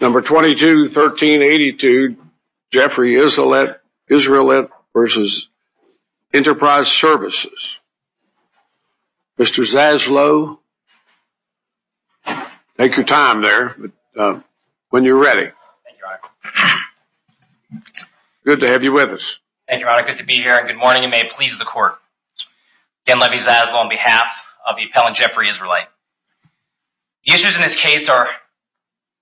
Number 221382 Jeffrey Israelitt versus Enterprise Services. Mr. Zaslow, take your time there when you're ready. Good to have you with us. Thank you, Your Honor. Good to be here and good morning and may it please the court. Ken Levy Zaslow on behalf of the Court of Appeals. Today's briefings are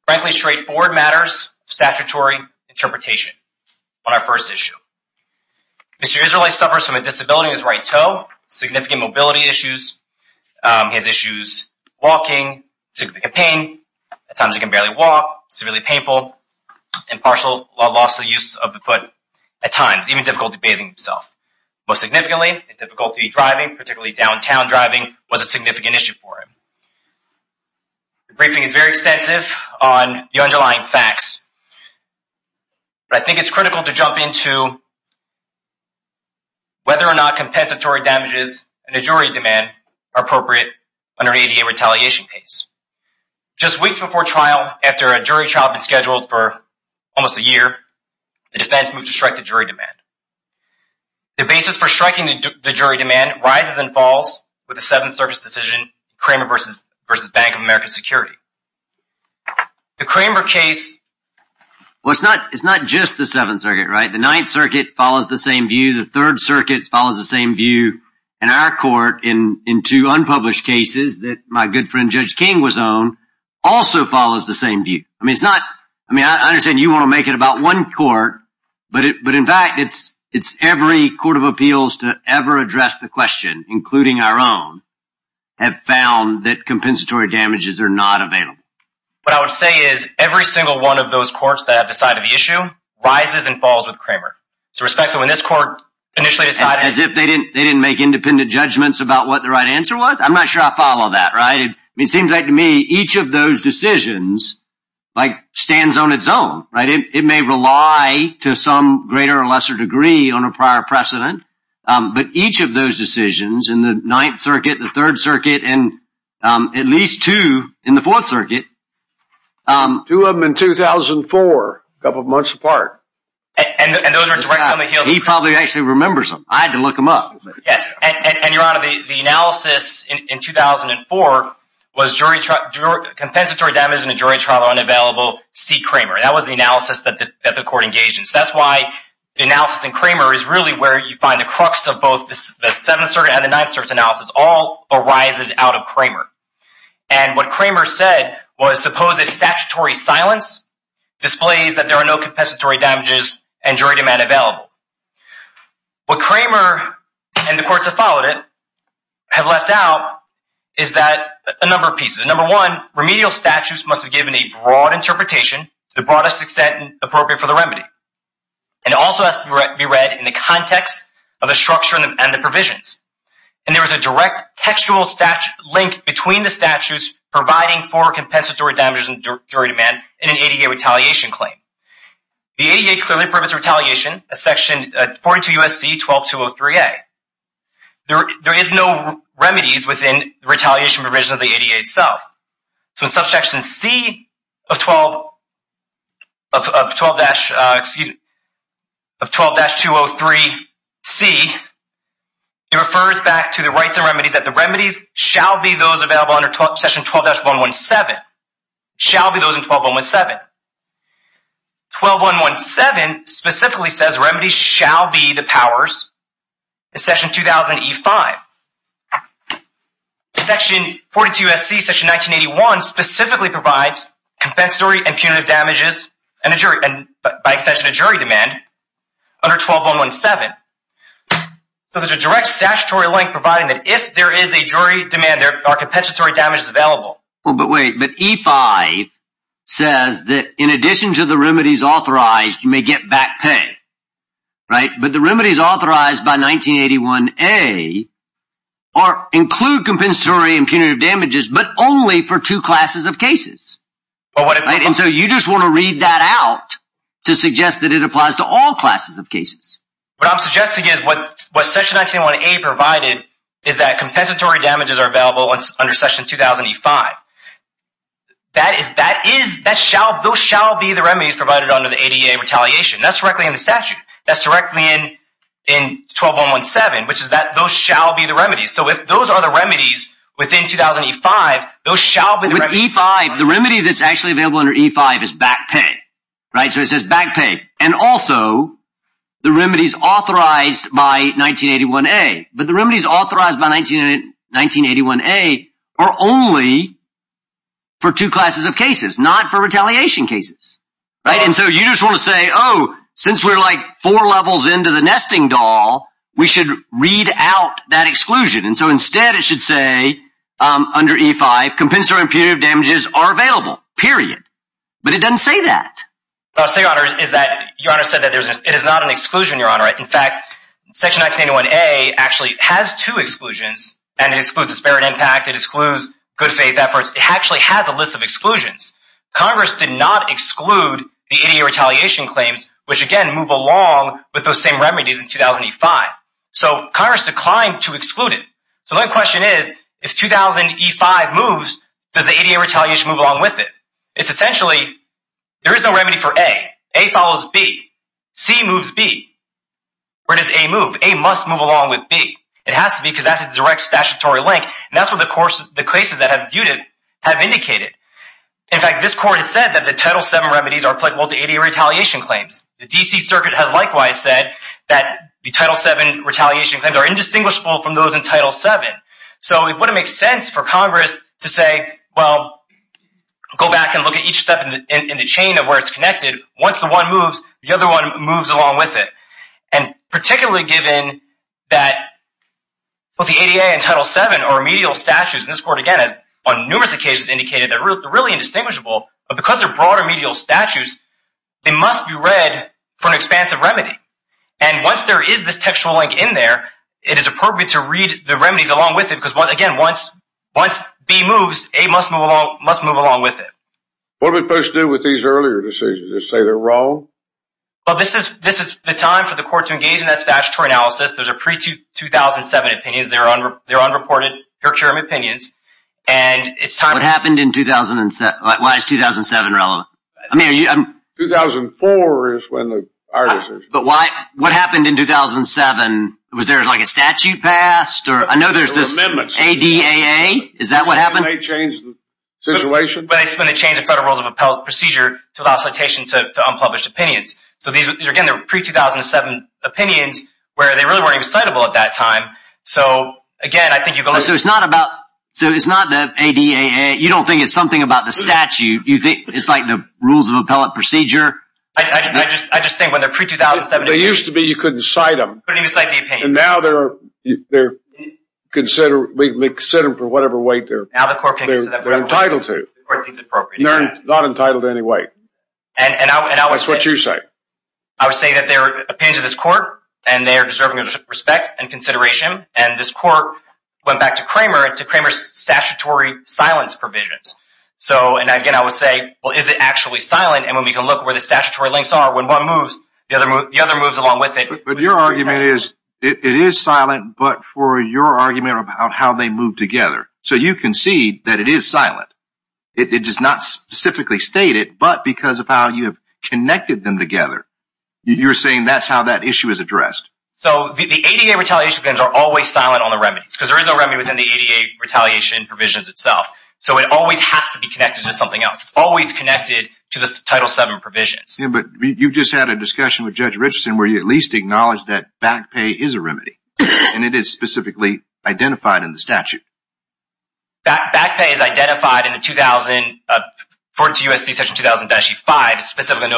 frankly straightforward matters of statutory interpretation on our first issue. Mr. Israelitt suffers from a disability in his right toe, significant mobility issues, he has issues walking, significant pain, at times he can barely walk, severely painful, and partial loss of use of the foot at times, even difficulty bathing himself. Most significantly, difficulty driving, particularly downtown driving was a significant issue for him. The briefing is very extensive on the underlying facts, but I think it's critical to jump into whether or not compensatory damages and a jury demand are appropriate under an ADA retaliation case. Just weeks before trial, after a jury trial had been scheduled for almost a year, the defense moved to strike the jury demand. The basis for striking the jury demand rises and falls with a seventh service decision, a claim of revocation, and a conviction. The Kramer case, it's not just the Seventh Circuit, right? The Ninth Circuit follows the same view, the Third Circuit follows the same view, and our court in two unpublished cases that my good friend Judge King was on also follows the same view. I mean, I understand you want to make it about one court, but in fact, it's every Court of Appeals to ever address the question, including our own, have found that it's not just the Seventh Circuit. Compensatory damages are not available. What I would say is every single one of those courts that have decided the issue rises and falls with Kramer. As if they didn't make independent judgments about what the right answer was? I'm not sure I follow that, right? It seems like to me each of those decisions stands on its own. It may rely to some greater or lesser degree on a prior precedent, but each of those decisions in the Ninth Circuit, the Third Circuit, and at least two in the Fourth Circuit. Two of them in 2004, a couple of months apart. He probably actually remembers them. I had to look them up. Yes, and Your Honor, the analysis in 2004 was compensatory damage in a jury trial unavailable, see Kramer. That was the analysis that the court engaged in. That's why the analysis in Kramer is really where you find the crux of both the Seventh Circuit and the Ninth Circuit analysis all arises out of Kramer. And what Kramer said was suppose a statutory silence displays that there are no compensatory damages and jury demand available. What Kramer and the courts that followed it have left out is that a number of pieces. Number one, remedial statutes must have given a broad interpretation to the broadest extent appropriate for the remedy. And it also has to be read in the context of the structure and the provisions. And there is a direct textual link between the statutes providing for compensatory damages and jury demand in an ADA retaliation claim. The ADA clearly permits retaliation as section 42 U.S.C. 12203A. There is no remedies within the retaliation provision of the ADA itself. So in subsection C of 12-203C, it refers back to the rights and remedies that the remedies shall be those available under section 12-117, shall be those in 12-117. 12-117 specifically says remedies shall be the powers in section 2000E-5. Section 42 U.S.C., section 1981 specifically provides compensatory and punitive damages by extension of jury demand under 12-117. So there is a direct statutory link providing that if there is a jury demand, there are compensatory damages available. But wait, but E-5 says that in addition to the remedies authorized, you may get back pay, right? But the remedies authorized by 1981A include compensatory and punitive damages, but only for two classes of cases. And so you just want to read that out to suggest that it applies to all classes of cases. What I'm suggesting is what section 1981A provided is that compensatory damages are available under section 2000E-5. Those shall be the remedies provided under the ADA retaliation. That's directly in the statute. That's directly in 12-117, which is that those shall be the remedies. So if those are the remedies within 2000E-5, those shall be the remedies. With E-5, the remedy that's actually available under E-5 is back pay, right? So the remedies authorized by 1981A, but the remedies authorized by 1981A are only for two classes of cases, not for retaliation cases, right? And so you just want to say, oh, since we're like four levels into the nesting doll, we should read out that exclusion. And so instead it should say under E-5, compensatory and punitive damages are available, period. But it doesn't say that. What I'll say, Your Honor, is that Your Honor said that it is not an exclusion, Your Honor. In fact, section 1981A actually has two exclusions, and it excludes disparate impact. It excludes good faith efforts. It actually has a list of exclusions. Congress did not exclude the ADA retaliation claims, which, again, move along with those same remedies in 2000E-5. So Congress declined to exclude it. So my question is, if 2000E-5 moves, does the ADA retaliation move along with it? It's essentially there is no remedy for A. A follows B. C moves B. Where does A move? A must move along with B. It has to be because that's a direct statutory link, and that's what the cases that have viewed it have indicated. In fact, this court has said that the Title VII remedies are applicable to ADA retaliation claims. The D.C. Circuit has likewise said that the Title VII retaliation claims are indistinguishable from those in Title VII. So it wouldn't make sense for Congress to say, well, go back and look at each step in the chain of where it's connected. Once the one moves, the other one moves along with it. And particularly given that both the ADA and Title VII are remedial statutes, and this court, again, has on numerous occasions indicated they're really indistinguishable, but because they're broad remedial statutes, they must be read for an expansive remedy. And once there is this textual link in there, it is appropriate to read the remedies along with it, because, again, once B moves, A must move along with it. What are we supposed to do with these earlier decisions? Just say they're wrong? Well, this is the time for the court to engage in that statutory analysis. Those are pre-2007 opinions. They're unreported procurement opinions. What happened in 2007? Why is 2007 relevant? 2004 is when our decision was made. But what happened in 2007? Was there, like, a statute passed? I know there's this ADAA. Is that what happened? It may change the situation. But it's when they changed the federal rules of procedure to allow citation to unpublished opinions. So, again, these are pre-2007 opinions where they really weren't even citable at that time. So, again, I think you go look at it. So it's not the ADAA. You don't think it's something about the statute. You think it's like the rules of appellate procedure? I just think when they're pre-2007… They used to be you couldn't cite them. Couldn't even cite the opinions. And now they're considered for whatever weight they're entitled to. The court deems it appropriate. They're not entitled to any weight. And I would say… That's what you say. I would say that they're opinions of this court, and they are deserving of respect and consideration. And this court went back to Cramer and to Cramer's statutory silence provisions. So, and again, I would say, well, is it actually silent? And when we can look where the statutory links are, when one moves, the other moves along with it. But your argument is it is silent, but for your argument about how they move together. So you concede that it is silent. It does not specifically state it, but because of how you have connected them together, you're saying that's how that issue is addressed. So the ADAA retaliation things are always silent on the remedies because there is no remedy within the ADAA retaliation provisions itself. So it always has to be connected to something else. It's always connected to the Title VII provisions. Yeah, but you just had a discussion with Judge Richardson where you at least acknowledged that back pay is a remedy. And it is specifically identified in the statute. Back pay is identified in the 2014 U.S.C. Section 2000-E5. It's specifically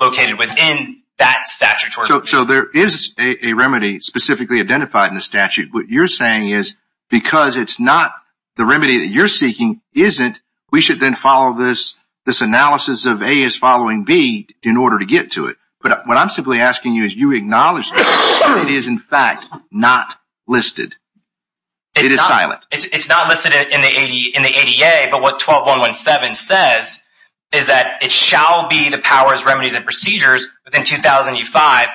located within that statutory. So there is a remedy specifically identified in the statute. What you're saying is because it's not the remedy that you're seeking isn't, we should then follow this analysis of A is following B in order to get to it. But what I'm simply asking you is you acknowledge that it is in fact not listed. It is silent. It's not listed in the ADAA, but what 12.117 says is that it shall be the powers, remedies, and procedures within 2000-E5.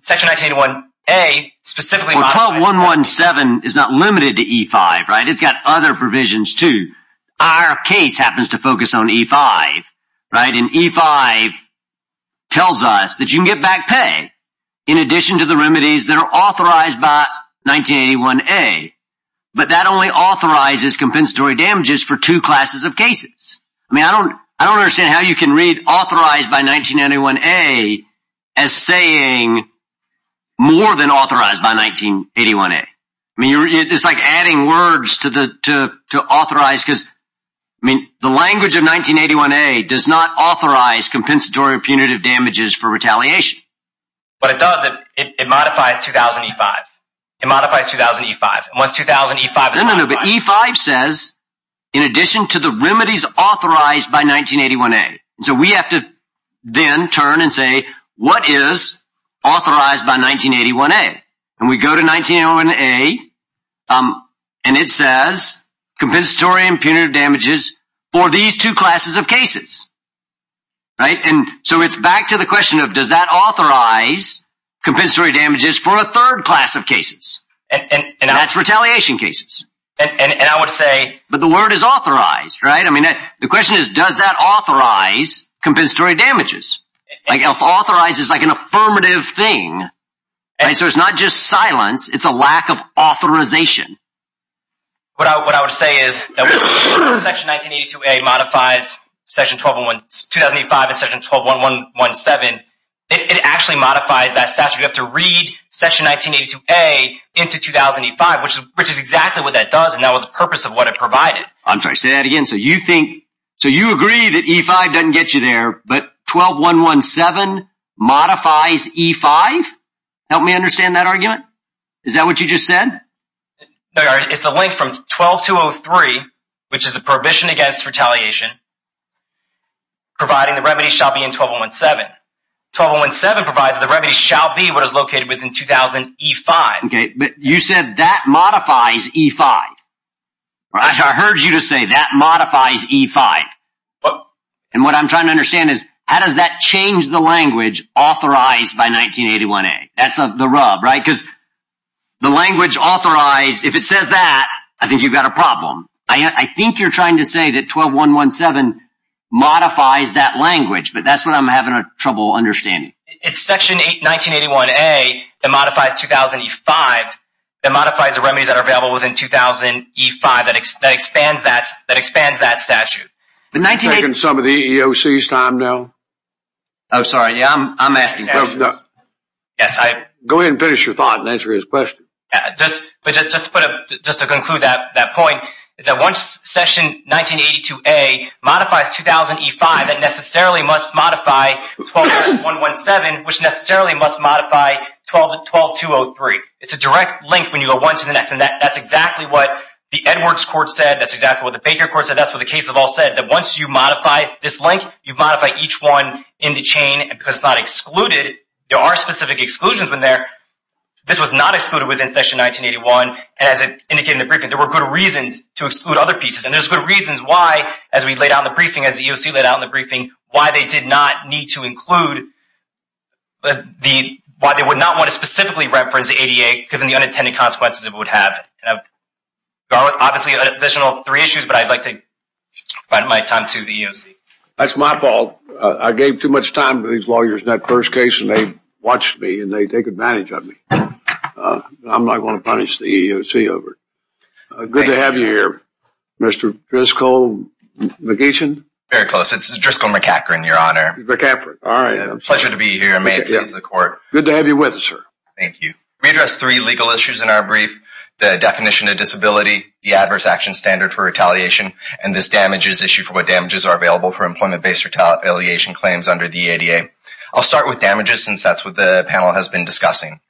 Section 1981-A specifically. Well, 12.117 is not limited to E5, right? It's got other provisions too. Our case happens to focus on E5, right? And E5 tells us that you can get back pay in addition to the remedies that are authorized by 1981-A. But that only authorizes compensatory damages for two classes of cases. I mean, I don't understand how you can read authorized by 1981-A as saying more than authorized by 1981-A. I mean, it's like adding words to authorize because the language of 1981-A does not authorize compensatory or punitive damages for retaliation. But it does. It modifies 2000-E5. It modifies 2000-E5. No, no, no, but E5 says in addition to the remedies authorized by 1981-A. So we have to then turn and say what is authorized by 1981-A? And we go to 1981-A and it says compensatory and punitive damages for these two classes of cases, right? And so it's back to the question of does that authorize compensatory damages for a third class of cases? And that's retaliation cases. And I would say. But the word is authorized, right? I mean, the question is does that authorize compensatory damages? Like authorize is like an affirmative thing. And so it's not just silence. It's a lack of authorization. What I would say is that section 1982-A modifies 2000-E5 and section 12111-7. It actually modifies that statute. You have to read section 1982-A into 2000-E5, which is exactly what that does. And that was the purpose of what it provided. I'm sorry, say that again. So you think. So you agree that E5 doesn't get you there, but 12117 modifies E5? Help me understand that argument. Is that what you just said? It's the link from 12203, which is the prohibition against retaliation, providing the remedy shall be in 12117. 12117 provides the remedy shall be what is located within 2000-E5. Okay, but you said that modifies E5. I heard you just say that modifies E5. And what I'm trying to understand is how does that change the language authorized by 1981-A? That's the rub, right? Because the language authorized, if it says that, I think you've got a problem. I think you're trying to say that 12117 modifies that language, but that's what I'm having trouble understanding. It's section 1981-A that modifies 2000-E5 that modifies the remedies that are available within 2000-E5 that expands that statute. Are you taking some of the EEOC's time now? Oh, sorry. Yeah, I'm asking that. Go ahead and finish your thought and answer his question. Just to conclude that point is that once section 1982-A modifies 2000-E5, that necessarily must modify 12117, which necessarily must modify 12203. It's a direct link when you go one to the next, and that's exactly what the Edwards court said. That's exactly what the Baker court said. That's what the case of all said, that once you modify this link, you modify each one in the chain because it's not excluded. There are specific exclusions in there. This was not excluded within section 1981, and as indicated in the briefing, there were good reasons to exclude other pieces. And there's good reasons why, as we laid out in the briefing, as the EEOC laid out in the briefing, why they did not need to include the – why they would not want to specifically reference the ADA given the unintended consequences it would have. Obviously, additional three issues, but I'd like to provide my time to the EEOC. That's my fault. I gave too much time to these lawyers in that first case, and they watched me, and they took advantage of me. I'm not going to punish the EEOC over it. Good to have you here, Mr. Driscoll McEachin. Very close. It's Driscoll McEachin, Your Honor. McEachin. All right. Pleasure to be here. May it please the court. Good to have you with us, sir. Thank you. We addressed three legal issues in our brief, the definition of disability, the adverse action standard for retaliation, and this damages issue for what damages are available for employment-based retaliation claims under the ADA. I'll start with damages since that's what the panel has been discussing.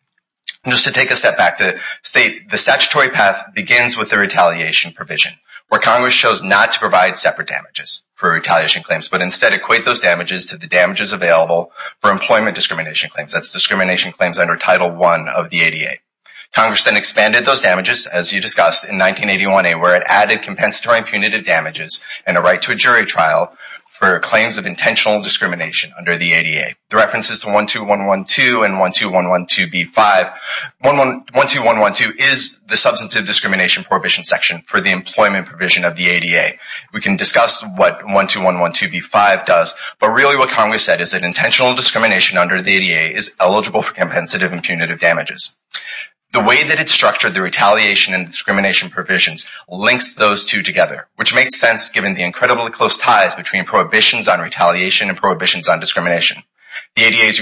Just to take a step back to state, the statutory path begins with the retaliation provision, where Congress chose not to provide separate damages for retaliation claims, but instead equate those damages to the damages available for employment discrimination claims. That's discrimination claims under Title I of the ADA. Congress then expanded those damages, as you discussed, in 1981A, where it added compensatory and punitive damages and a right to a jury trial for claims of intentional discrimination under the ADA. The reference is to 12112 and 12112B5. 12112 is the substantive discrimination prohibition section for the employment provision of the ADA. We can discuss what 12112B5 does, but really what Congress said is that intentional discrimination under the ADA is eligible for compensative and punitive damages. The way that it's structured, the retaliation and discrimination provisions, links those two together, which makes sense given the incredibly close ties between prohibitions on retaliation and prohibitions on discrimination. The ADA's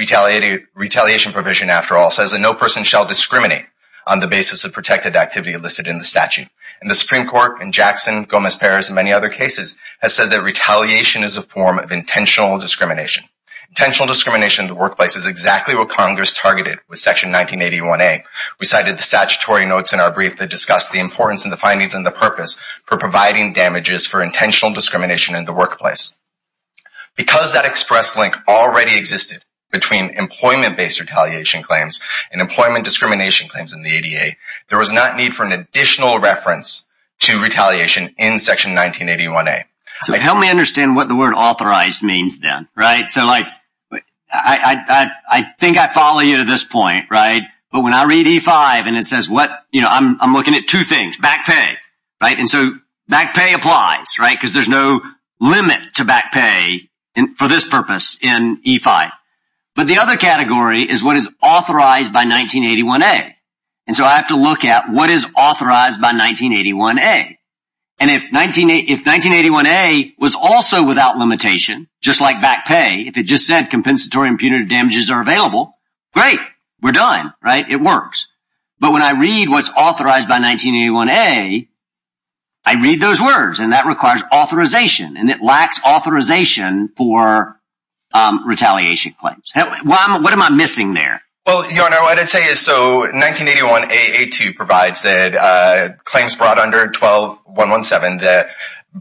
retaliation provision, after all, says that no person shall discriminate on the basis of protected activity listed in the statute. The Supreme Court, in Jackson, Gomez-Perez, and many other cases, has said that retaliation is a form of intentional discrimination. Intentional discrimination in the workplace is exactly what Congress targeted with Section 1981A. We cited the statutory notes in our brief that discuss the importance and the findings and the purpose for providing damages for intentional discrimination in the workplace. Because that express link already existed between employment-based retaliation claims and employment discrimination claims in the ADA, there was not need for an additional reference to retaliation in Section 1981A. So help me understand what the word authorized means then, right? So like, I think I follow you to this point, right? But when I read E5 and it says what, you know, I'm looking at two things, back pay, right? And so back pay applies, right? Because there's no limit to back pay for this purpose in E5. But the other category is what is authorized by 1981A. And so I have to look at what is authorized by 1981A. And if 1981A was also without limitation, just like back pay, if it just said compensatory and punitive damages are available, great, we're done, right? It works. But when I read what's authorized by 1981A, I read those words and that requires authorization and it lacks authorization for retaliation claims. What am I missing there? Well, Your Honor, what I'd say is, so 1981A.A.2 provides that claims brought under 12.117, the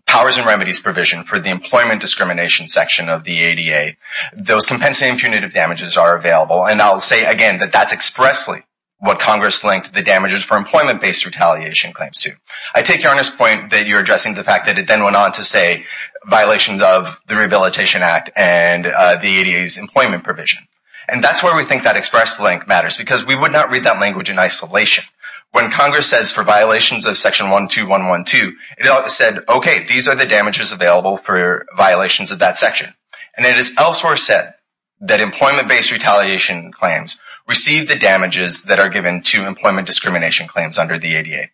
powers and remedies provision for the employment discrimination section of the ADA, those compensatory and punitive damages are available. And I'll say again that that's expressly what Congress linked the damages for employment-based retaliation claims to. I take Your Honor's point that you're addressing the fact that it then went on to say violations of the Rehabilitation Act and the ADA's employment provision. And that's where we think that express link matters because we would not read that language in isolation. When Congress says for violations of section 12.112, it said, okay, these are the damages available for violations of that section. And it is elsewhere said that employment-based retaliation claims receive the damages that are given to employment discrimination claims under the ADA.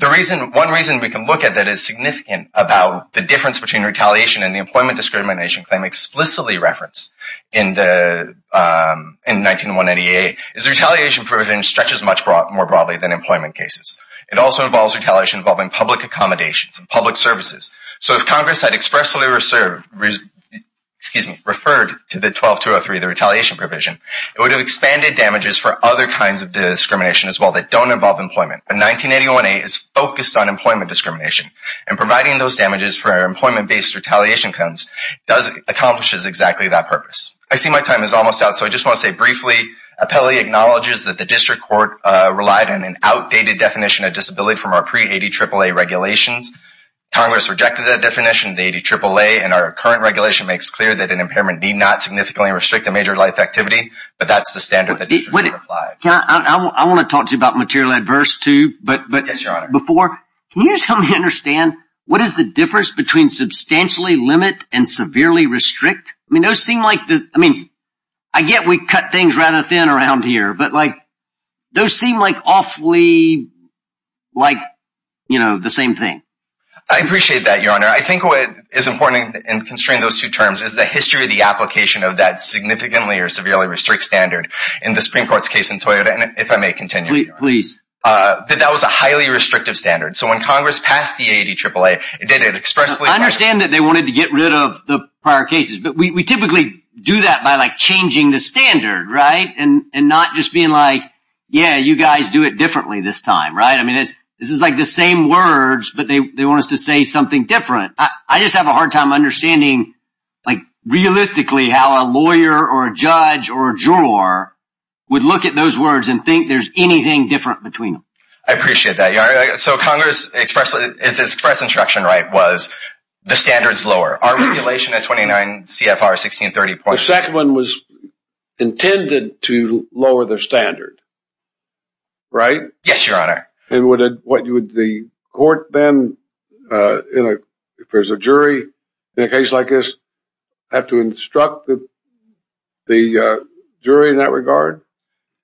One reason we can look at that is significant about the difference between retaliation and the employment discrimination claim explicitly referenced in 1981.88 is the retaliation provision stretches much more broadly than employment cases. It also involves retaliation involving public accommodations and public services. So if Congress had expressly referred to the 12.203, the retaliation provision, it would have expanded damages for other kinds of discrimination as well that don't involve employment. But 1981.88 is focused on employment discrimination. And providing those damages for employment-based retaliation claims accomplishes exactly that purpose. I see my time is almost out, so I just want to say briefly, Appellee acknowledges that the District Court relied on an outdated definition of disability from our pre-ADAAA regulations. Congress rejected that definition of the ADAAA, and our current regulation makes clear that an impairment need not significantly restrict a major life activity. But that's the standard that the District Court applied. I want to talk to you about material adverse too, but before, can you just help me understand, what is the difference between substantially limit and severely restrict? I mean, those seem like, I mean, I get we cut things rather thin around here, but like, those seem like awfully, like, you know, the same thing. I appreciate that, Your Honor. I think what is important in constraining those two terms is the history of the application of that significantly or severely restrict standard. In the Supreme Court's case in Toyota, and if I may continue. Please. That that was a highly restrictive standard. So when Congress passed the ADAAA, it did it expressly. I understand that they wanted to get rid of the prior cases, but we typically do that by like changing the standard, right? And not just being like, yeah, you guys do it differently this time, right? I mean, this is like the same words, but they want us to say something different. I just have a hard time understanding, like, realistically how a lawyer or a judge or a juror would look at those words and think there's anything different between them. I appreciate that, Your Honor. So Congress expressed instruction, right, was the standards lower. Our regulation at 29 CFR 1630. The second one was intended to lower their standard, right? Yes, Your Honor. And would the court then, if there's a jury in a case like this, have to instruct the jury in that regard?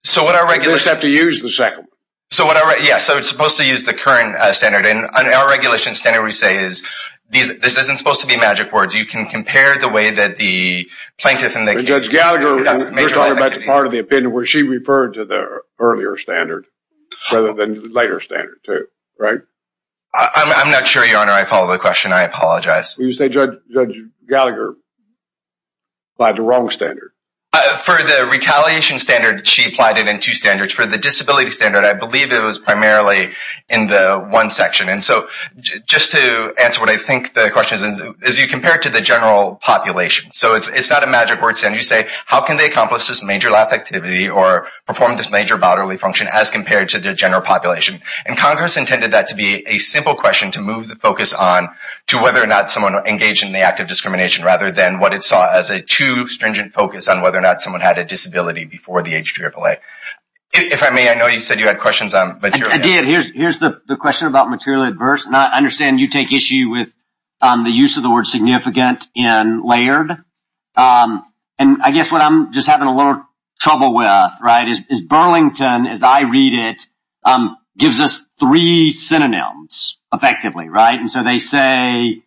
So what our regulation... They just have to use the second one. So it's supposed to use the current standard. And our regulation standard we say is this isn't supposed to be magic words. You can compare the way that the plaintiff and the case... Judge Gallagher, we're talking about the part of the opinion where she referred to the earlier standard rather than later standard too, right? I'm not sure, Your Honor. I follow the question. I apologize. You said Judge Gallagher applied the wrong standard. For the retaliation standard, she applied it in two standards. For the disability standard, I believe it was primarily in the one section. And so just to answer what I think the question is, is you compare it to the general population. So it's not a magic word standard. You say, how can they accomplish this major life activity or perform this major bodily function as compared to the general population? And Congress intended that to be a simple question to move the focus on to whether or not someone engaged in the act of discrimination rather than what it saw as a too stringent focus on whether or not someone had a disability before the age of AAA. If I may, I know you said you had questions on material... I did. Here's the question about materially adverse. And I understand you take issue with the use of the word significant in layered. And I guess what I'm just having a little trouble with, right, is Burlington, as I read it, gives us three synonyms effectively, right? And so they say,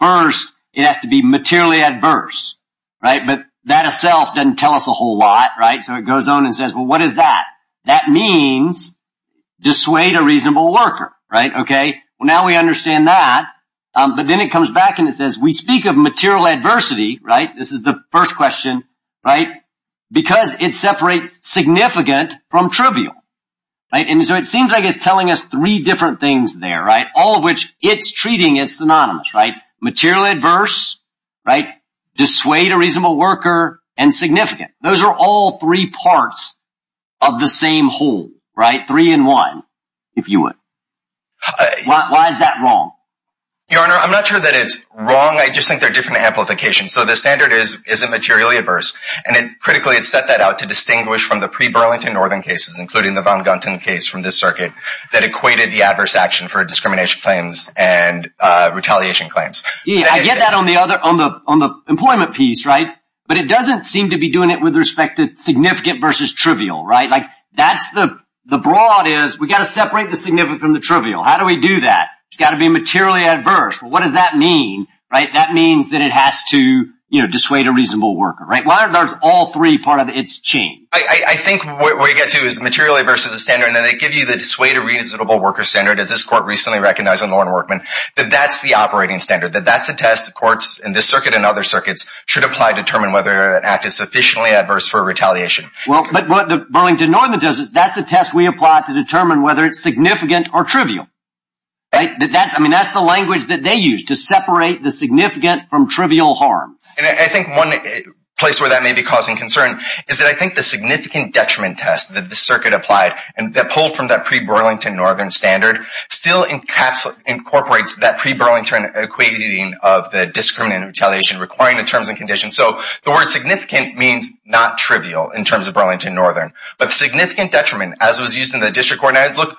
first, it has to be materially adverse, right? But that itself doesn't tell us a whole lot, right? So it goes on and says, well, what is that? That means dissuade a reasonable worker, right? OK, well, now we understand that. But then it comes back and it says we speak of material adversity, right? This is the first question, right? Because it separates significant from trivial. And so it seems like it's telling us three different things there, right? All of which it's treating as synonymous, right? Material adverse, right? Dissuade a reasonable worker and significant. Those are all three parts of the same whole, right? Three in one, if you would. Why is that wrong? Your Honor, I'm not sure that it's wrong. I just think they're different amplifications. So the standard is, is it materially adverse? And critically, it's set that out to distinguish from the pre-Burlington northern cases, including the Von Gunten case from this circuit, that equated the adverse action for discrimination claims and retaliation claims. I get that on the employment piece, right? But it doesn't seem to be doing it with respect to significant versus trivial, right? Like, that's the broad is, we've got to separate the significant from the trivial. How do we do that? It's got to be materially adverse. What does that mean, right? That means that it has to, you know, dissuade a reasonable worker, right? Why aren't all three part of its chain? I think what we get to is materially adverse is a standard. And then they give you the dissuade a reasonable worker standard, as this court recently recognized in Lorne Workman, that that's the operating standard. That that's a test the courts in this circuit and other circuits should apply to determine whether an act is sufficiently adverse for retaliation. Well, but what the Burlington northern does is that's the test we apply to determine whether it's significant or trivial, right? That that's, I mean, that's the language that they use to separate the significant from trivial harms. And I think one place where that may be causing concern is that I think the significant detriment test that this circuit applied, and that pulled from that pre-Burlington northern standard, still incorporates that pre-Burlington equating of the discriminant retaliation requiring the terms and conditions. So the word significant means not trivial in terms of Burlington northern. But significant detriment, as was used in the district court, and I'd look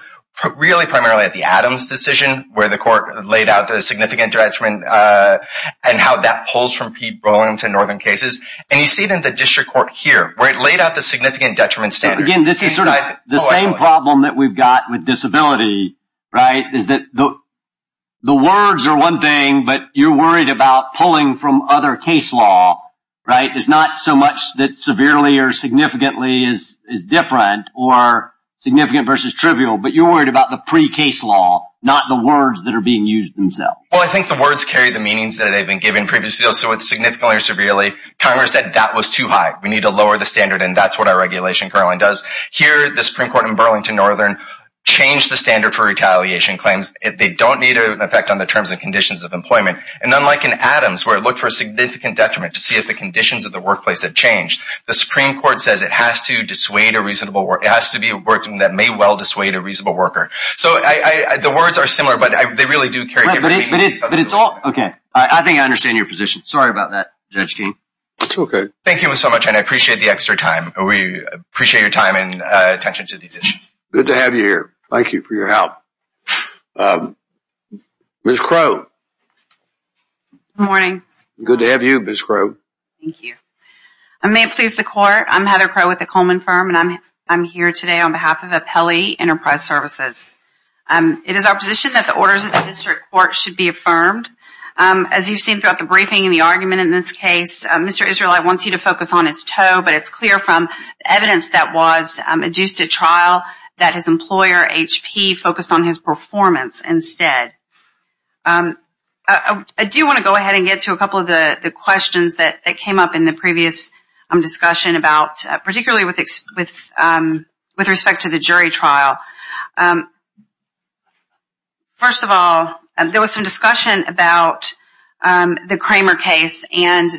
really primarily at the Adams decision where the court laid out the significant detriment and how that pulls from people into northern cases. And you see it in the district court here, where it laid out the significant detriment standard. Again, this is sort of the same problem that we've got with disability, right? Is that the words are one thing, but you're worried about pulling from other case law, right? It's not so much that severely or significantly is different or significant versus trivial, but you're worried about the pre-case law, not the words that are being used themselves. Well, I think the words carry the meanings that have been given previously. So with significantly or severely, Congress said that was too high. We need to lower the standard, and that's what our regulation currently does. Here, the Supreme Court in Burlington northern changed the standard for retaliation claims. They don't need an effect on the terms and conditions of employment. And unlike in Adams, where it looked for a significant detriment to see if the conditions of the workplace had changed, the Supreme Court says it has to dissuade a reasonable worker. It has to be a working that may well dissuade a reasonable worker. So the words are similar, but they really do carry different meanings. But it's all okay. I think I understand your position. Sorry about that, Judge King. That's okay. Thank you so much, and I appreciate the extra time. We appreciate your time and attention to these issues. Good to have you here. Thank you for your help. Ms. Crow. Good morning. Good to have you, Ms. Crow. Thank you. I may have pleased the court. I'm Heather Crow with the Coleman Firm, and I'm here today on behalf of Apelli Enterprise Services. It is our position that the orders of the district court should be affirmed. As you've seen throughout the briefing and the argument in this case, Mr. Israelite wants you to focus on his toe, but it's clear from evidence that was adduced at trial that his employer, HP, focused on his performance instead. I do want to go ahead and get to a couple of the questions that came up in the previous discussion, particularly with respect to the jury trial. First of all, there was some discussion about the Kramer case and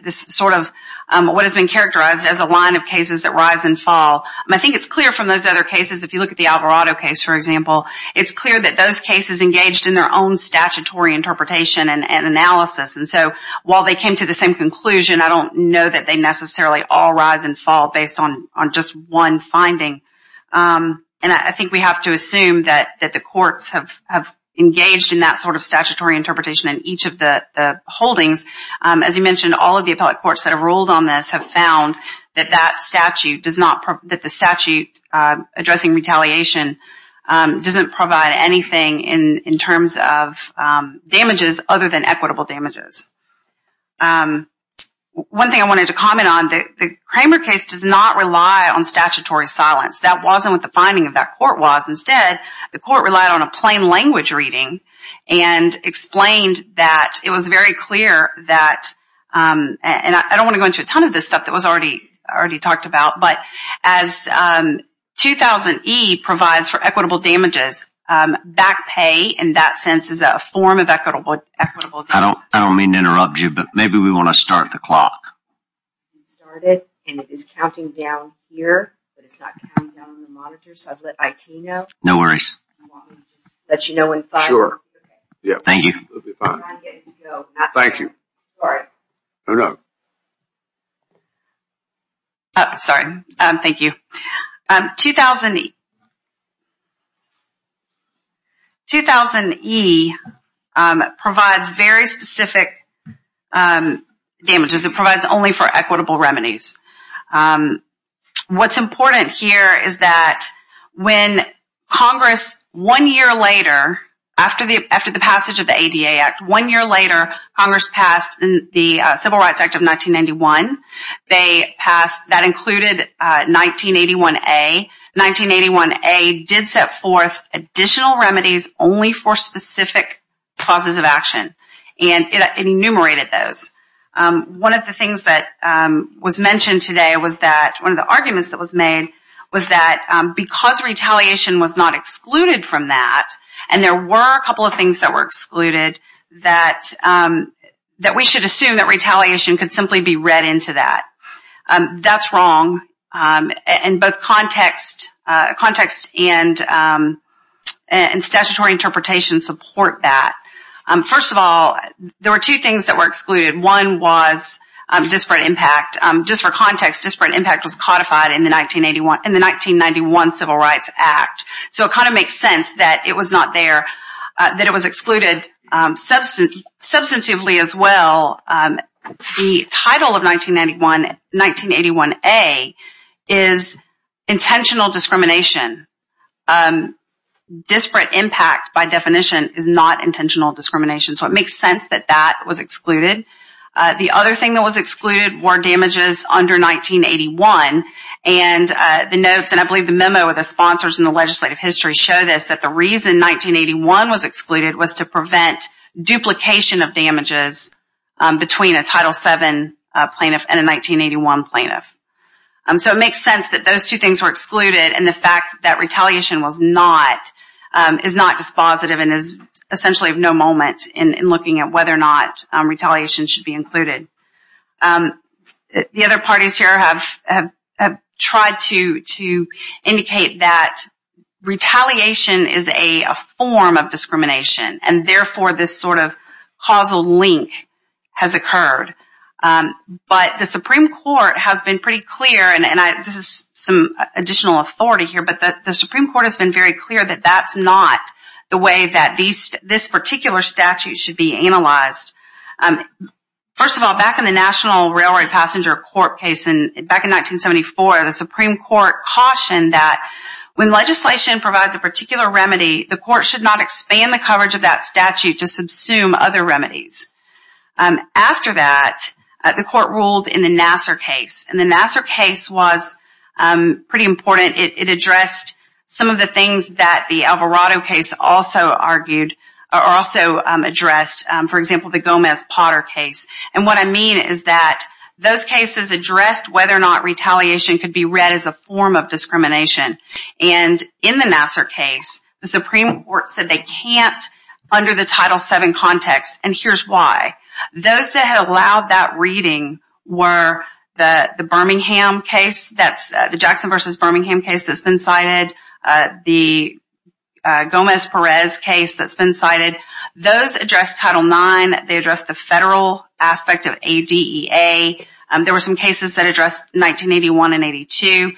what has been characterized as a line of cases that rise and fall. I think it's clear from those other cases, if you look at the Alvarado case, for example, it's clear that those cases engaged in their own statutory interpretation and analysis. And so while they came to the same conclusion, I don't know that they necessarily all rise and fall based on just one finding. And I think we have to assume that the courts have engaged in that sort of statutory interpretation in each of the holdings. As you mentioned, all of the appellate courts that have ruled on this have found that the statute addressing retaliation doesn't provide anything in terms of damages other than equitable damages. One thing I wanted to comment on, the Kramer case does not rely on statutory silence. That wasn't what the finding of that court was. Instead, the court relied on a plain language reading and explained that it was very clear that, and I don't want to go into a ton of this stuff that was already talked about, but as 2000E provides for equitable damages, back pay in that sense is a form of equitable damages. I don't mean to interrupt you, but maybe we want to start the clock. It started and it is counting down here, but it's not counting down on the monitor, so I've let IT know. No worries. Sure. Thank you. We'll be fine. Thank you. Sorry. No, no. Sorry. Thank you. 2000E provides very specific damages. It provides only for equitable remedies. What's important here is that when Congress, one year later, after the passage of the ADA Act, one year later, Congress passed the Civil Rights Act of 1991. That included 1981A. 1981A did set forth additional remedies only for specific causes of action, and it enumerated those. One of the things that was mentioned today was that one of the arguments that was made was that because retaliation was not excluded from that, and there were a couple of things that were excluded, that we should assume that retaliation could simply be read into that. That's wrong, and both context and statutory interpretation support that. First of all, there were two things that were excluded. One was disparate impact. Just for context, disparate impact was codified in the 1991 Civil Rights Act, so it kind of makes sense that it was not there, that it was excluded substantively as well. The title of 1981A is intentional discrimination. Disparate impact, by definition, is not intentional discrimination, so it makes sense that that was excluded. The other thing that was excluded were damages under 1981, and the notes, and I believe the memo of the sponsors in the legislative history show this, that the reason 1981 was excluded was to prevent duplication of damages between a Title VII plaintiff and a 1981 plaintiff. So it makes sense that those two things were excluded, and the fact that retaliation is not dispositive and is essentially of no moment The other parties here have tried to indicate that retaliation is a form of discrimination, and therefore this sort of causal link has occurred. But the Supreme Court has been pretty clear, and this is some additional authority here, but the Supreme Court has been very clear that that's not the way that this particular statute should be analyzed. First of all, back in the National Railroad Passenger Court case back in 1974, the Supreme Court cautioned that when legislation provides a particular remedy, the court should not expand the coverage of that statute to subsume other remedies. After that, the court ruled in the Nassar case, and the Nassar case was pretty important. It addressed some of the things that the Alvarado case also argued, or also addressed, for example, the Gomez-Potter case. And what I mean is that those cases addressed whether or not retaliation could be read as a form of discrimination. And in the Nassar case, the Supreme Court said they can't under the Title VII context, and here's why. Those that had allowed that reading were the Jackson v. Birmingham case that's been cited, the Gomez-Perez case that's been cited. Those addressed Title IX. They addressed the federal aspect of ADEA. There were some cases that addressed 1981 and 82.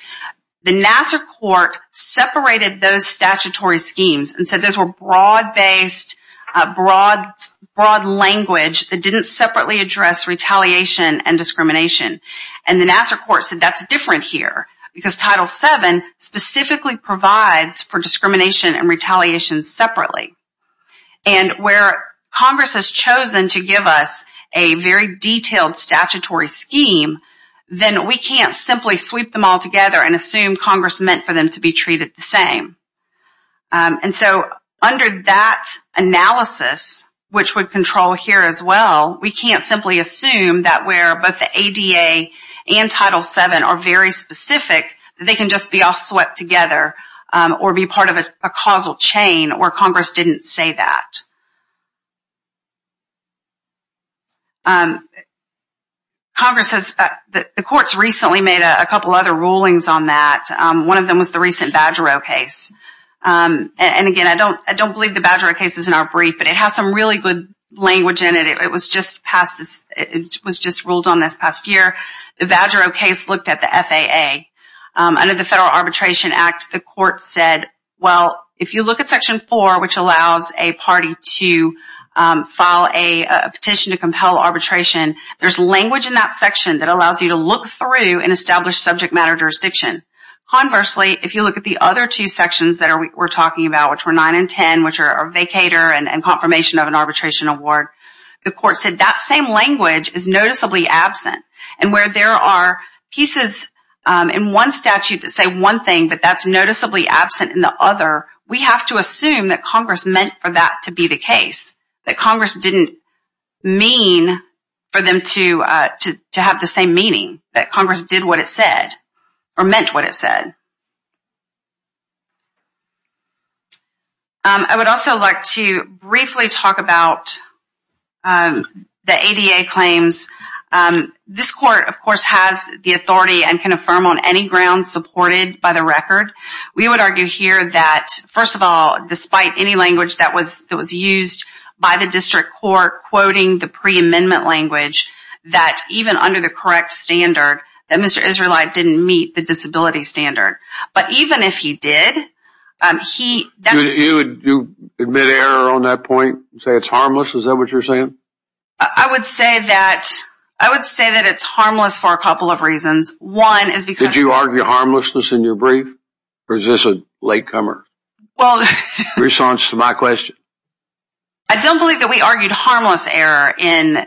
The Nassar court separated those statutory schemes and said those were broad-based, broad language that didn't separately address retaliation and discrimination. And the Nassar court said that's different here because Title VII specifically provides for discrimination and retaliation separately. And where Congress has chosen to give us a very detailed statutory scheme, then we can't simply sweep them all together and assume Congress meant for them to be treated the same. And so under that analysis, which would control here as well, we can't simply assume that where both the ADA and Title VII are very specific, they can just be all swept together or be part of a causal chain where Congress didn't say that. Congress has the courts recently made a couple other rulings on that. One of them was the recent Badgerow case. And again, I don't believe the Badgerow case is in our brief, but it has some really good language in it. It was just ruled on this past year. The Badgerow case looked at the FAA. Under the Federal Arbitration Act, the court said, well, if you look at Section 4, which allows a party to file a petition to compel arbitration, there's language in that section that allows you to look through and establish subject matter jurisdiction. Conversely, if you look at the other two sections that we're talking about, which were 9 and 10, which are vacater and confirmation of an arbitration award, the court said that same language is noticeably absent. And where there are pieces in one statute that say one thing, but that's noticeably absent in the other, we have to assume that Congress meant for that to be the case, that Congress didn't mean for them to have the same meaning, that Congress did what it said or meant what it said. I would also like to briefly talk about the ADA claims. This court, of course, has the authority and can affirm on any grounds supported by the record. We would argue here that, first of all, despite any language that was used by the district court quoting the preamendment language, that even under the correct standard, that Mr. Israelite didn't meet the disability standard. But even if he did, he... You would admit error on that point and say it's harmless? Is that what you're saying? I would say that it's harmless for a couple of reasons. One is because... Did you argue harmlessness in your brief or is this a latecomer response to my question? I don't believe that we argued harmless error in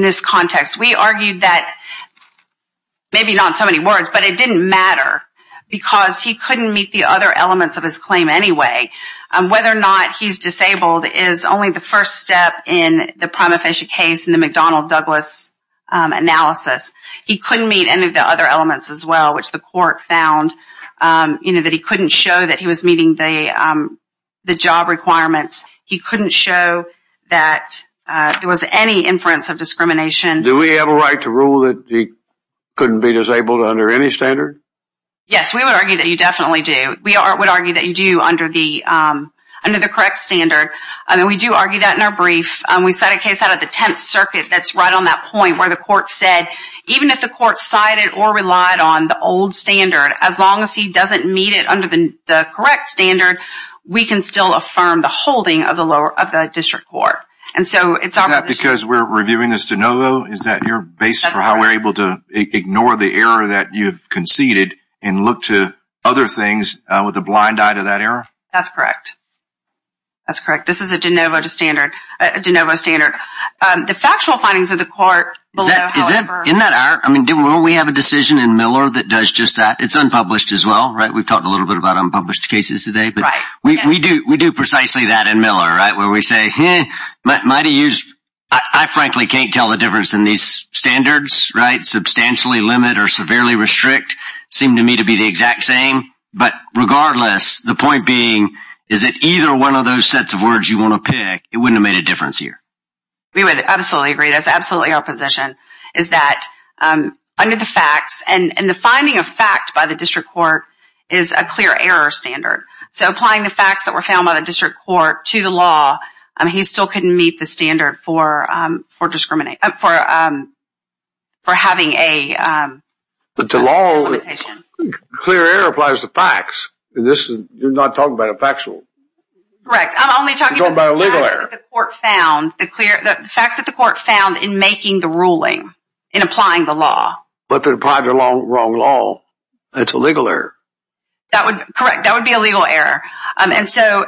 this context. We argued that, maybe not in so many words, but it didn't matter because he couldn't meet the other elements of his claim anyway. Whether or not he's disabled is only the first step in the prima facie case in the McDonnell-Douglas analysis. He couldn't meet any of the other elements as well, which the court found that he couldn't show that he was meeting the job requirements. Do we have a right to rule that he couldn't be disabled under any standard? Yes, we would argue that you definitely do. We would argue that you do under the correct standard. We do argue that in our brief. We cite a case out of the Tenth Circuit that's right on that point where the court said, even if the court cited or relied on the old standard, as long as he doesn't meet it under the correct standard, we can still affirm the holding of the district court. Is that because we're reviewing this de novo? Is that your basis for how we're able to ignore the error that you've conceded and look to other things with a blind eye to that error? That's correct. That's correct. This is a de novo standard. The factual findings of the court below, however… Isn't that our… I mean, don't we have a decision in Miller that does just that? It's unpublished as well, right? We've talked a little bit about unpublished cases today. Right. We do precisely that in Miller, right, where we say, I frankly can't tell the difference in these standards, right? Substantially limit or severely restrict seem to me to be the exact same. But regardless, the point being is that either one of those sets of words you want to pick, it wouldn't have made a difference here. We would absolutely agree. That's absolutely our position is that under the facts, and the finding of fact by the district court is a clear error standard. So applying the facts that were found by the district court to the law, he still couldn't meet the standard for having a limitation. But the law, clear error applies to facts. You're not talking about a factual. Correct. I'm only talking about facts that the court found in making the ruling, in applying the law. But they applied the wrong law. That's a legal error. Correct. That would be a legal error. And so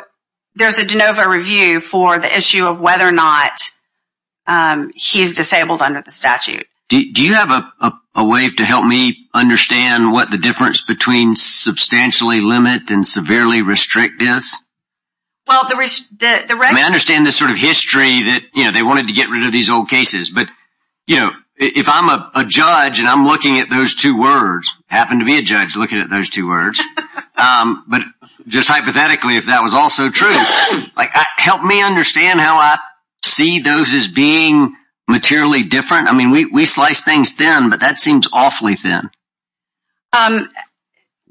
there's a de novo review for the issue of whether or not he's disabled under the statute. Do you have a way to help me understand what the difference between substantially limit and severely restrict is? Well, the rest of the record. I mean, I understand the sort of history that, you know, they wanted to get rid of these old cases. But, you know, if I'm a judge and I'm looking at those two words, I happen to be a judge looking at those two words. But just hypothetically, if that was also true, like help me understand how I see those as being materially different. I mean, we slice things thin, but that seems awfully thin.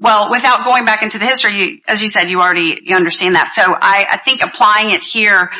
Well, without going back into the history, as you said, you already understand that. So I think applying it here,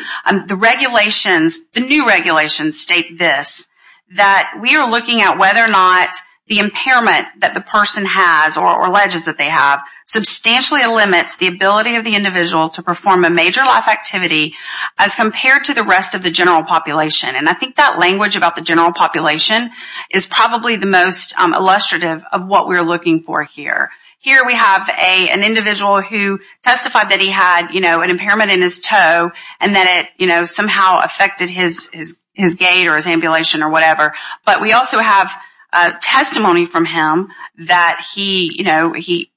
the regulations, the new regulations state this, that we are looking at whether or not the impairment that the person has or alleges that they have substantially limits the ability of the individual to perform a major life activity as compared to the rest of the general population. And I think that language about the general population is probably the most illustrative of what we're looking for here. Here we have an individual who testified that he had, you know, an impairment in his toe and that it somehow affected his gait or his ambulation or whatever. But we also have testimony from him that he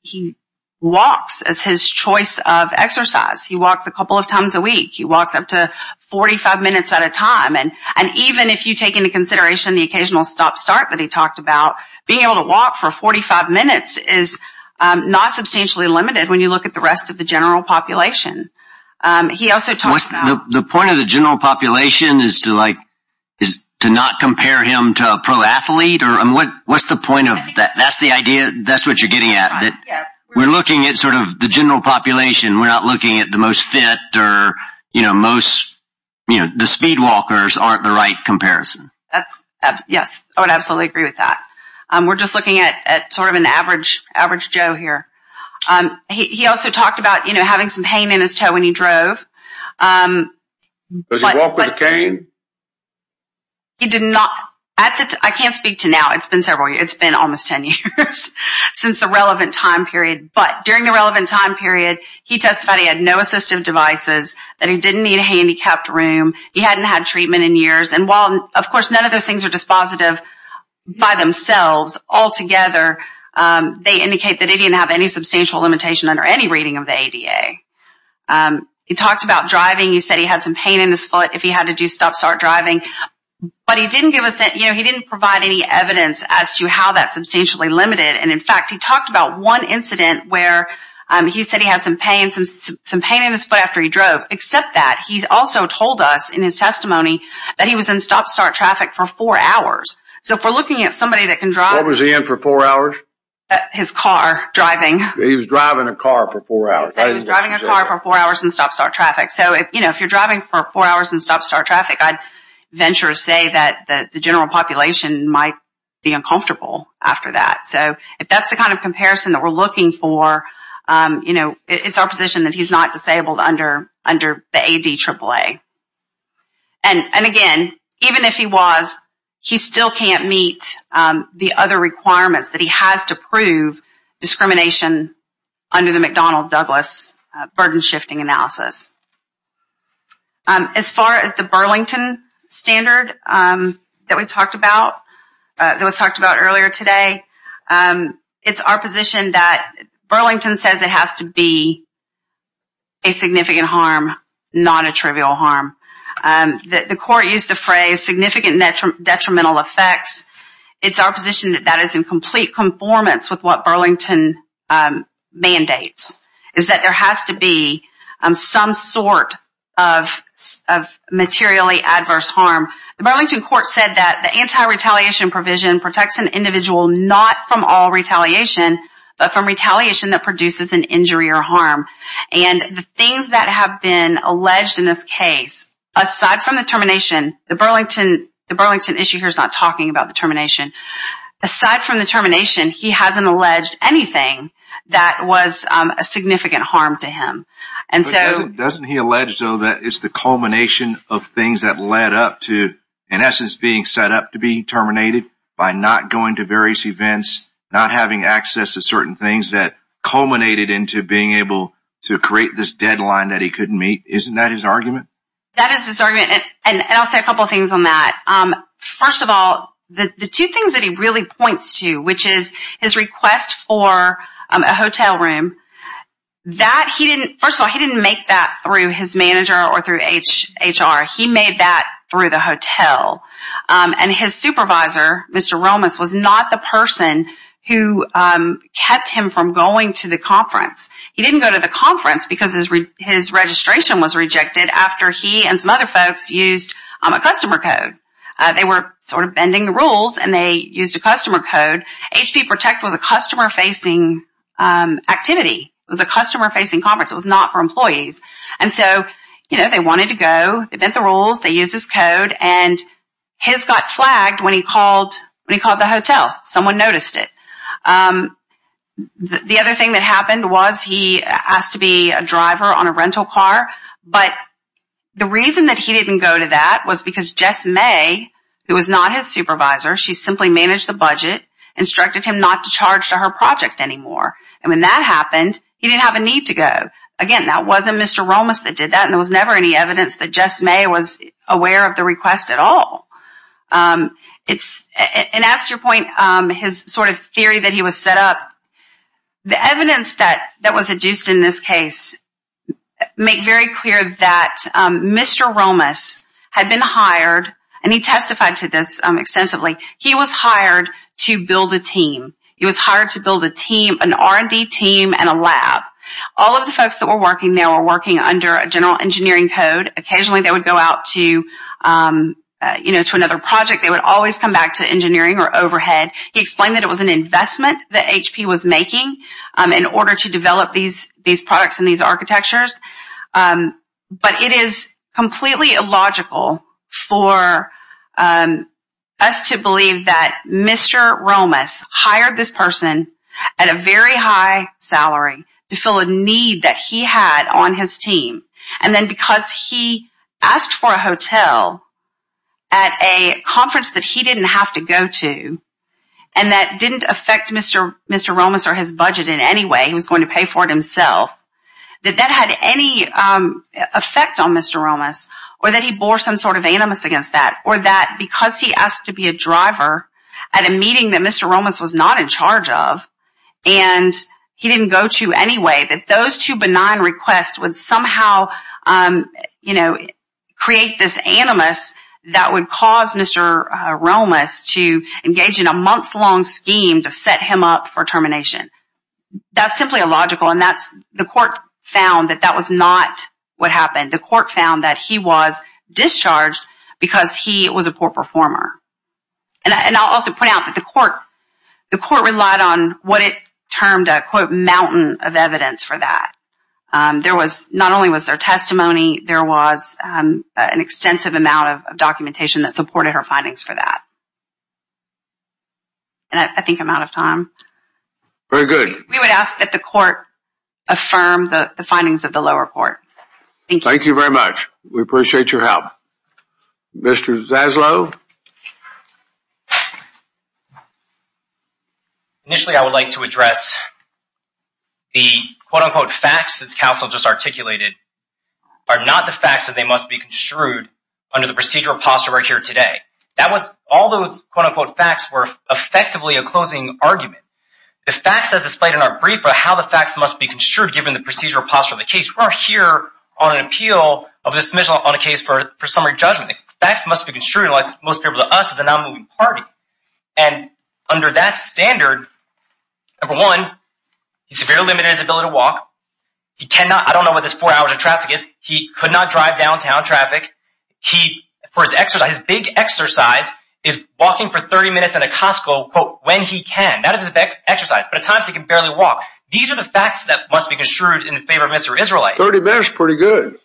walks as his choice of exercise. He walks a couple of times a week. He walks up to 45 minutes at a time. And even if you take into consideration the occasional stop-start that he talked about, being able to walk for 45 minutes is not substantially limited when you look at the rest of the general population. The point of the general population is to not compare him to a pro athlete? What's the point of that? That's the idea? That's what you're getting at? We're looking at sort of the general population. We're not looking at the most fit or, you know, the speed walkers aren't the right comparison. Yes, I would absolutely agree with that. We're just looking at sort of an average Joe here. He also talked about, you know, having some pain in his toe when he drove. Does he walk with a cane? He did not. I can't speak to now. It's been several years. It's been almost ten years since the relevant time period. But during the relevant time period, he testified he had no assistive devices, that he didn't need a handicapped room, he hadn't had treatment in years. And while, of course, none of those things are dispositive by themselves, all together, they indicate that he didn't have any substantial limitation under any reading of the ADA. He talked about driving. He said he had some pain in his foot if he had to do stop-start driving. But he didn't give us that, you know, he didn't provide any evidence as to how that's substantially limited. And, in fact, he talked about one incident where he said he had some pain, some pain in his foot after he drove. Except that, he also told us in his testimony that he was in stop-start traffic for four hours. So if we're looking at somebody that can drive. What was he in for four hours? His car, driving. He was driving a car for four hours. He was driving a car for four hours in stop-start traffic. So, you know, if you're driving for four hours in stop-start traffic, I'd venture to say that the general population might be uncomfortable after that. So if that's the kind of comparison that we're looking for, you know, it's our position that he's not disabled under the ADAAA. And, again, even if he was, he still can't meet the other requirements that he has to prove discrimination under the McDonnell-Douglas burden-shifting analysis. As far as the Burlington standard that we talked about, that was talked about earlier today, it's our position that Burlington says it has to be a significant harm, not a trivial harm. The court used the phrase significant detrimental effects. It's our position that that is in complete conformance with what Burlington mandates, is that there has to be some sort of materially adverse harm. The Burlington court said that the anti-retaliation provision protects an individual not from all retaliation, but from retaliation that produces an injury or harm. And the things that have been alleged in this case, aside from the termination, the Burlington issue here is not talking about the termination. Aside from the termination, he hasn't alleged anything that was a significant harm to him. Doesn't he allege, though, that it's the culmination of things that led up to, in essence, being set up to be terminated by not going to various events, not having access to certain things that culminated into being able to create this deadline that he couldn't meet? Isn't that his argument? That is his argument, and I'll say a couple of things on that. First of all, the two things that he really points to, which is his request for a hotel room, first of all, he didn't make that through his manager or through HR. He made that through the hotel. And his supervisor, Mr. Romas, was not the person who kept him from going to the conference. He didn't go to the conference because his registration was rejected after he and some other folks used a customer code. They were sort of bending the rules, and they used a customer code. HP Protect was a customer-facing activity. It was a customer-facing conference. It was not for employees. They bent the rules. They used this code, and his got flagged when he called the hotel. Someone noticed it. The other thing that happened was he asked to be a driver on a rental car, but the reason that he didn't go to that was because Jess May, who was not his supervisor, she simply managed the budget, instructed him not to charge to her project anymore. And when that happened, he didn't have a need to go. Again, that wasn't Mr. Romas that did that, and there was never any evidence that Jess May was aware of the request at all. And as to your point, his sort of theory that he was set up, the evidence that was adduced in this case made very clear that Mr. Romas had been hired, and he testified to this extensively, he was hired to build a team. He was hired to build a team, an R&D team and a lab. All of the folks that were working there were working under a general engineering code. Occasionally they would go out to another project. They would always come back to engineering or overhead. He explained that it was an investment that HP was making in order to develop these products and these architectures. But it is completely illogical for us to believe that Mr. Romas hired this person at a very high salary to fill a need that he had on his team. And then because he asked for a hotel at a conference that he didn't have to go to and that didn't affect Mr. Romas or his budget in any way, he was going to pay for it himself, that that had any effect on Mr. Romas or that he bore some sort of animus against that or that because he asked to be a driver at a meeting that Mr. Romas was not in charge of and he didn't go to anyway, that those two benign requests would somehow create this animus that would cause Mr. Romas to engage in a months-long scheme to set him up for termination. That's simply illogical, and the court found that that was not what happened. The court found that he was discharged because he was a poor performer. And I'll also point out that the court relied on what it termed a, quote, mountain of evidence for that. Not only was there testimony, there was an extensive amount of documentation that supported her findings for that. I think I'm out of time. Very good. We would ask that the court affirm the findings of the lower court. Thank you. Thank you very much. We appreciate your help. Mr. Zaslow? Initially, I would like to address the, quote, unquote, facts this counsel just articulated are not the facts that they must be construed under the procedural posture we're here today. That was all those, quote, unquote, facts were effectively a closing argument. The facts as displayed in our brief are how the facts must be construed given the procedural posture of the case. We're here on an appeal of a dismissal on a case for summary judgment. The facts must be construed in light of the most favorable to us as a non-moving party. And under that standard, number one, he's severely limited in his ability to walk. He cannot – I don't know what his four hours of traffic is. He could not drive downtown traffic. For his exercise, his big exercise is walking for 30 minutes in a Costco, quote, when he can. That is his best exercise. But at times he can barely walk. These are the facts that must be construed in favor of Mr. Israelite. 30 minutes is pretty good.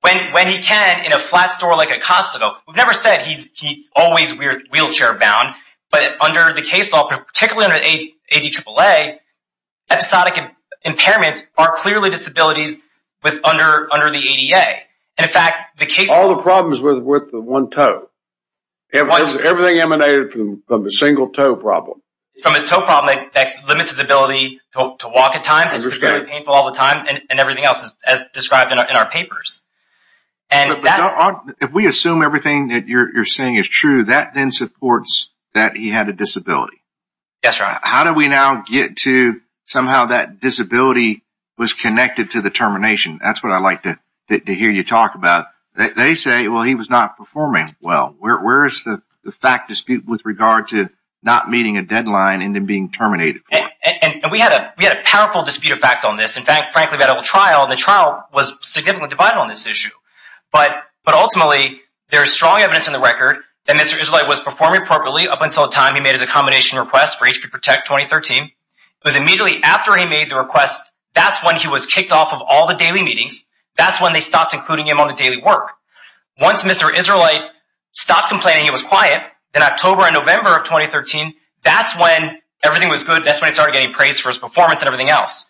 When he can in a flat store like a Costco. We've never said he's always wheelchair-bound. But under the case law, particularly under the ADAAA, episodic impairments are clearly disabilities under the ADA. And, in fact, the case – All the problems with the one toe. Everything emanated from the single toe problem. From his toe problem, that limits his ability to walk at times. It's very painful all the time. And everything else, as described in our papers. If we assume everything that you're saying is true, that then supports that he had a disability. Yes, Your Honor. How do we now get to somehow that disability was connected to the termination? That's what I'd like to hear you talk about. They say, well, he was not performing well. Where is the fact dispute with regard to not meeting a deadline and then being terminated? And we had a powerful dispute of fact on this. In fact, frankly, we had a trial. The trial was significantly divided on this issue. But ultimately, there is strong evidence in the record that Mr. Israelite was performing properly up until the time he made his accommodation request for HP Protect 2013. It was immediately after he made the request. That's when he was kicked off of all the daily meetings. That's when they stopped including him on the daily work. Once Mr. Israelite stopped complaining, he was quiet. In October and November of 2013, that's when everything was good. That's when he started getting praise for his performance and everything else.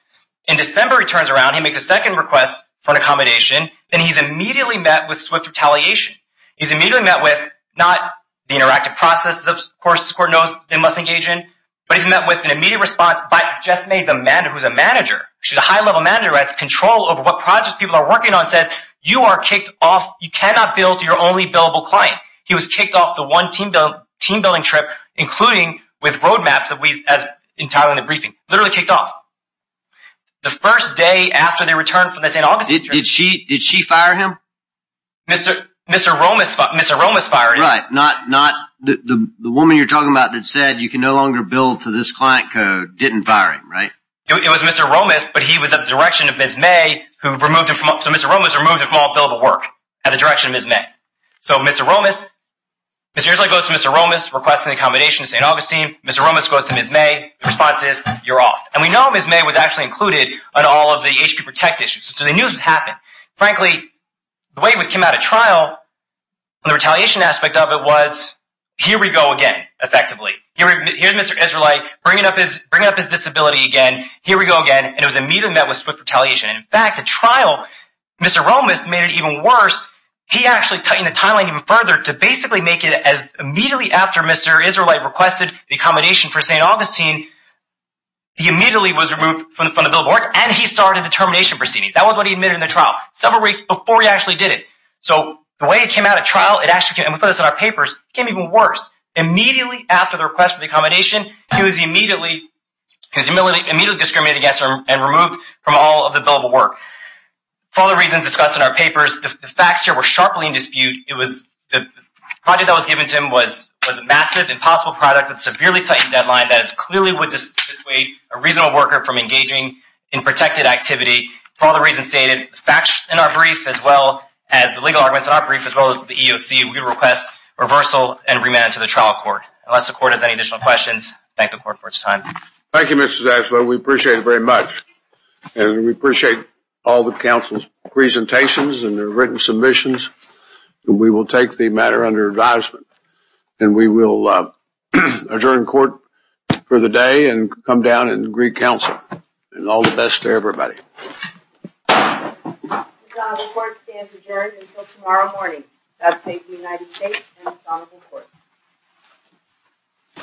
In December, he turns around. He makes a second request for an accommodation. And he's immediately met with swift retaliation. He's immediately met with not the interactive processes, of course, the court knows they must engage in. But he's met with an immediate response by Jeff May, who's a manager. She's a high-level manager who has control over what projects people are working on. She says, you are kicked off. You cannot build your only billable client. He was kicked off the one team-building trip, including with roadmaps as entitled in the briefing. Literally kicked off. The first day after they returned from the St. Augustine trip. Did she fire him? Mr. Romas fired him. Right. Not the woman you're talking about that said you can no longer build to this client code didn't fire him, right? It was Mr. Romas, but he was at the direction of Ms. May. So Mr. Romas removed him from all billable work at the direction of Ms. May. So Mr. Romas, Mr. Israelite goes to Mr. Romas requesting accommodation to St. Augustine. Mr. Romas goes to Ms. May. The response is, you're off. And we know Ms. May was actually included in all of the HP Protect issues. So they knew this was happening. Frankly, the way it came out at trial, the retaliation aspect of it was, here we go again, effectively. Here's Mr. Israelite bringing up his disability again. Here we go again. And it was immediately met with swift retaliation. In fact, the trial, Mr. Romas made it even worse. He actually tightened the timeline even further to basically make it as immediately after Mr. Israelite requested the accommodation for St. Augustine. He immediately was removed from the front of billable work, and he started the termination proceedings. That was what he admitted in the trial. Several weeks before he actually did it. So the way it came out at trial, and we put this in our papers, it came even worse. Immediately after the request for the accommodation, he was immediately discriminated against and removed from all of the billable work. For all the reasons discussed in our papers, the facts here were sharply in dispute. The project that was given to him was a massive, impossible product with a severely tightened deadline that clearly would dissuade a reasonable worker from engaging in protected activity. For all the reasons stated, the facts in our brief, as well as the legal arguments in our brief, as well as the EEOC, we request reversal and remand to the trial court. Unless the court has any additional questions, thank the court for its time. Thank you, Mr. Zaslow. We appreciate it very much. And we appreciate all the counsel's presentations and their written submissions. We will take the matter under advisement, and we will adjourn court for the day and come down and agree counsel. And all the best to everybody. The court stands adjourned until tomorrow morning. That's the United States and its Honorable Court.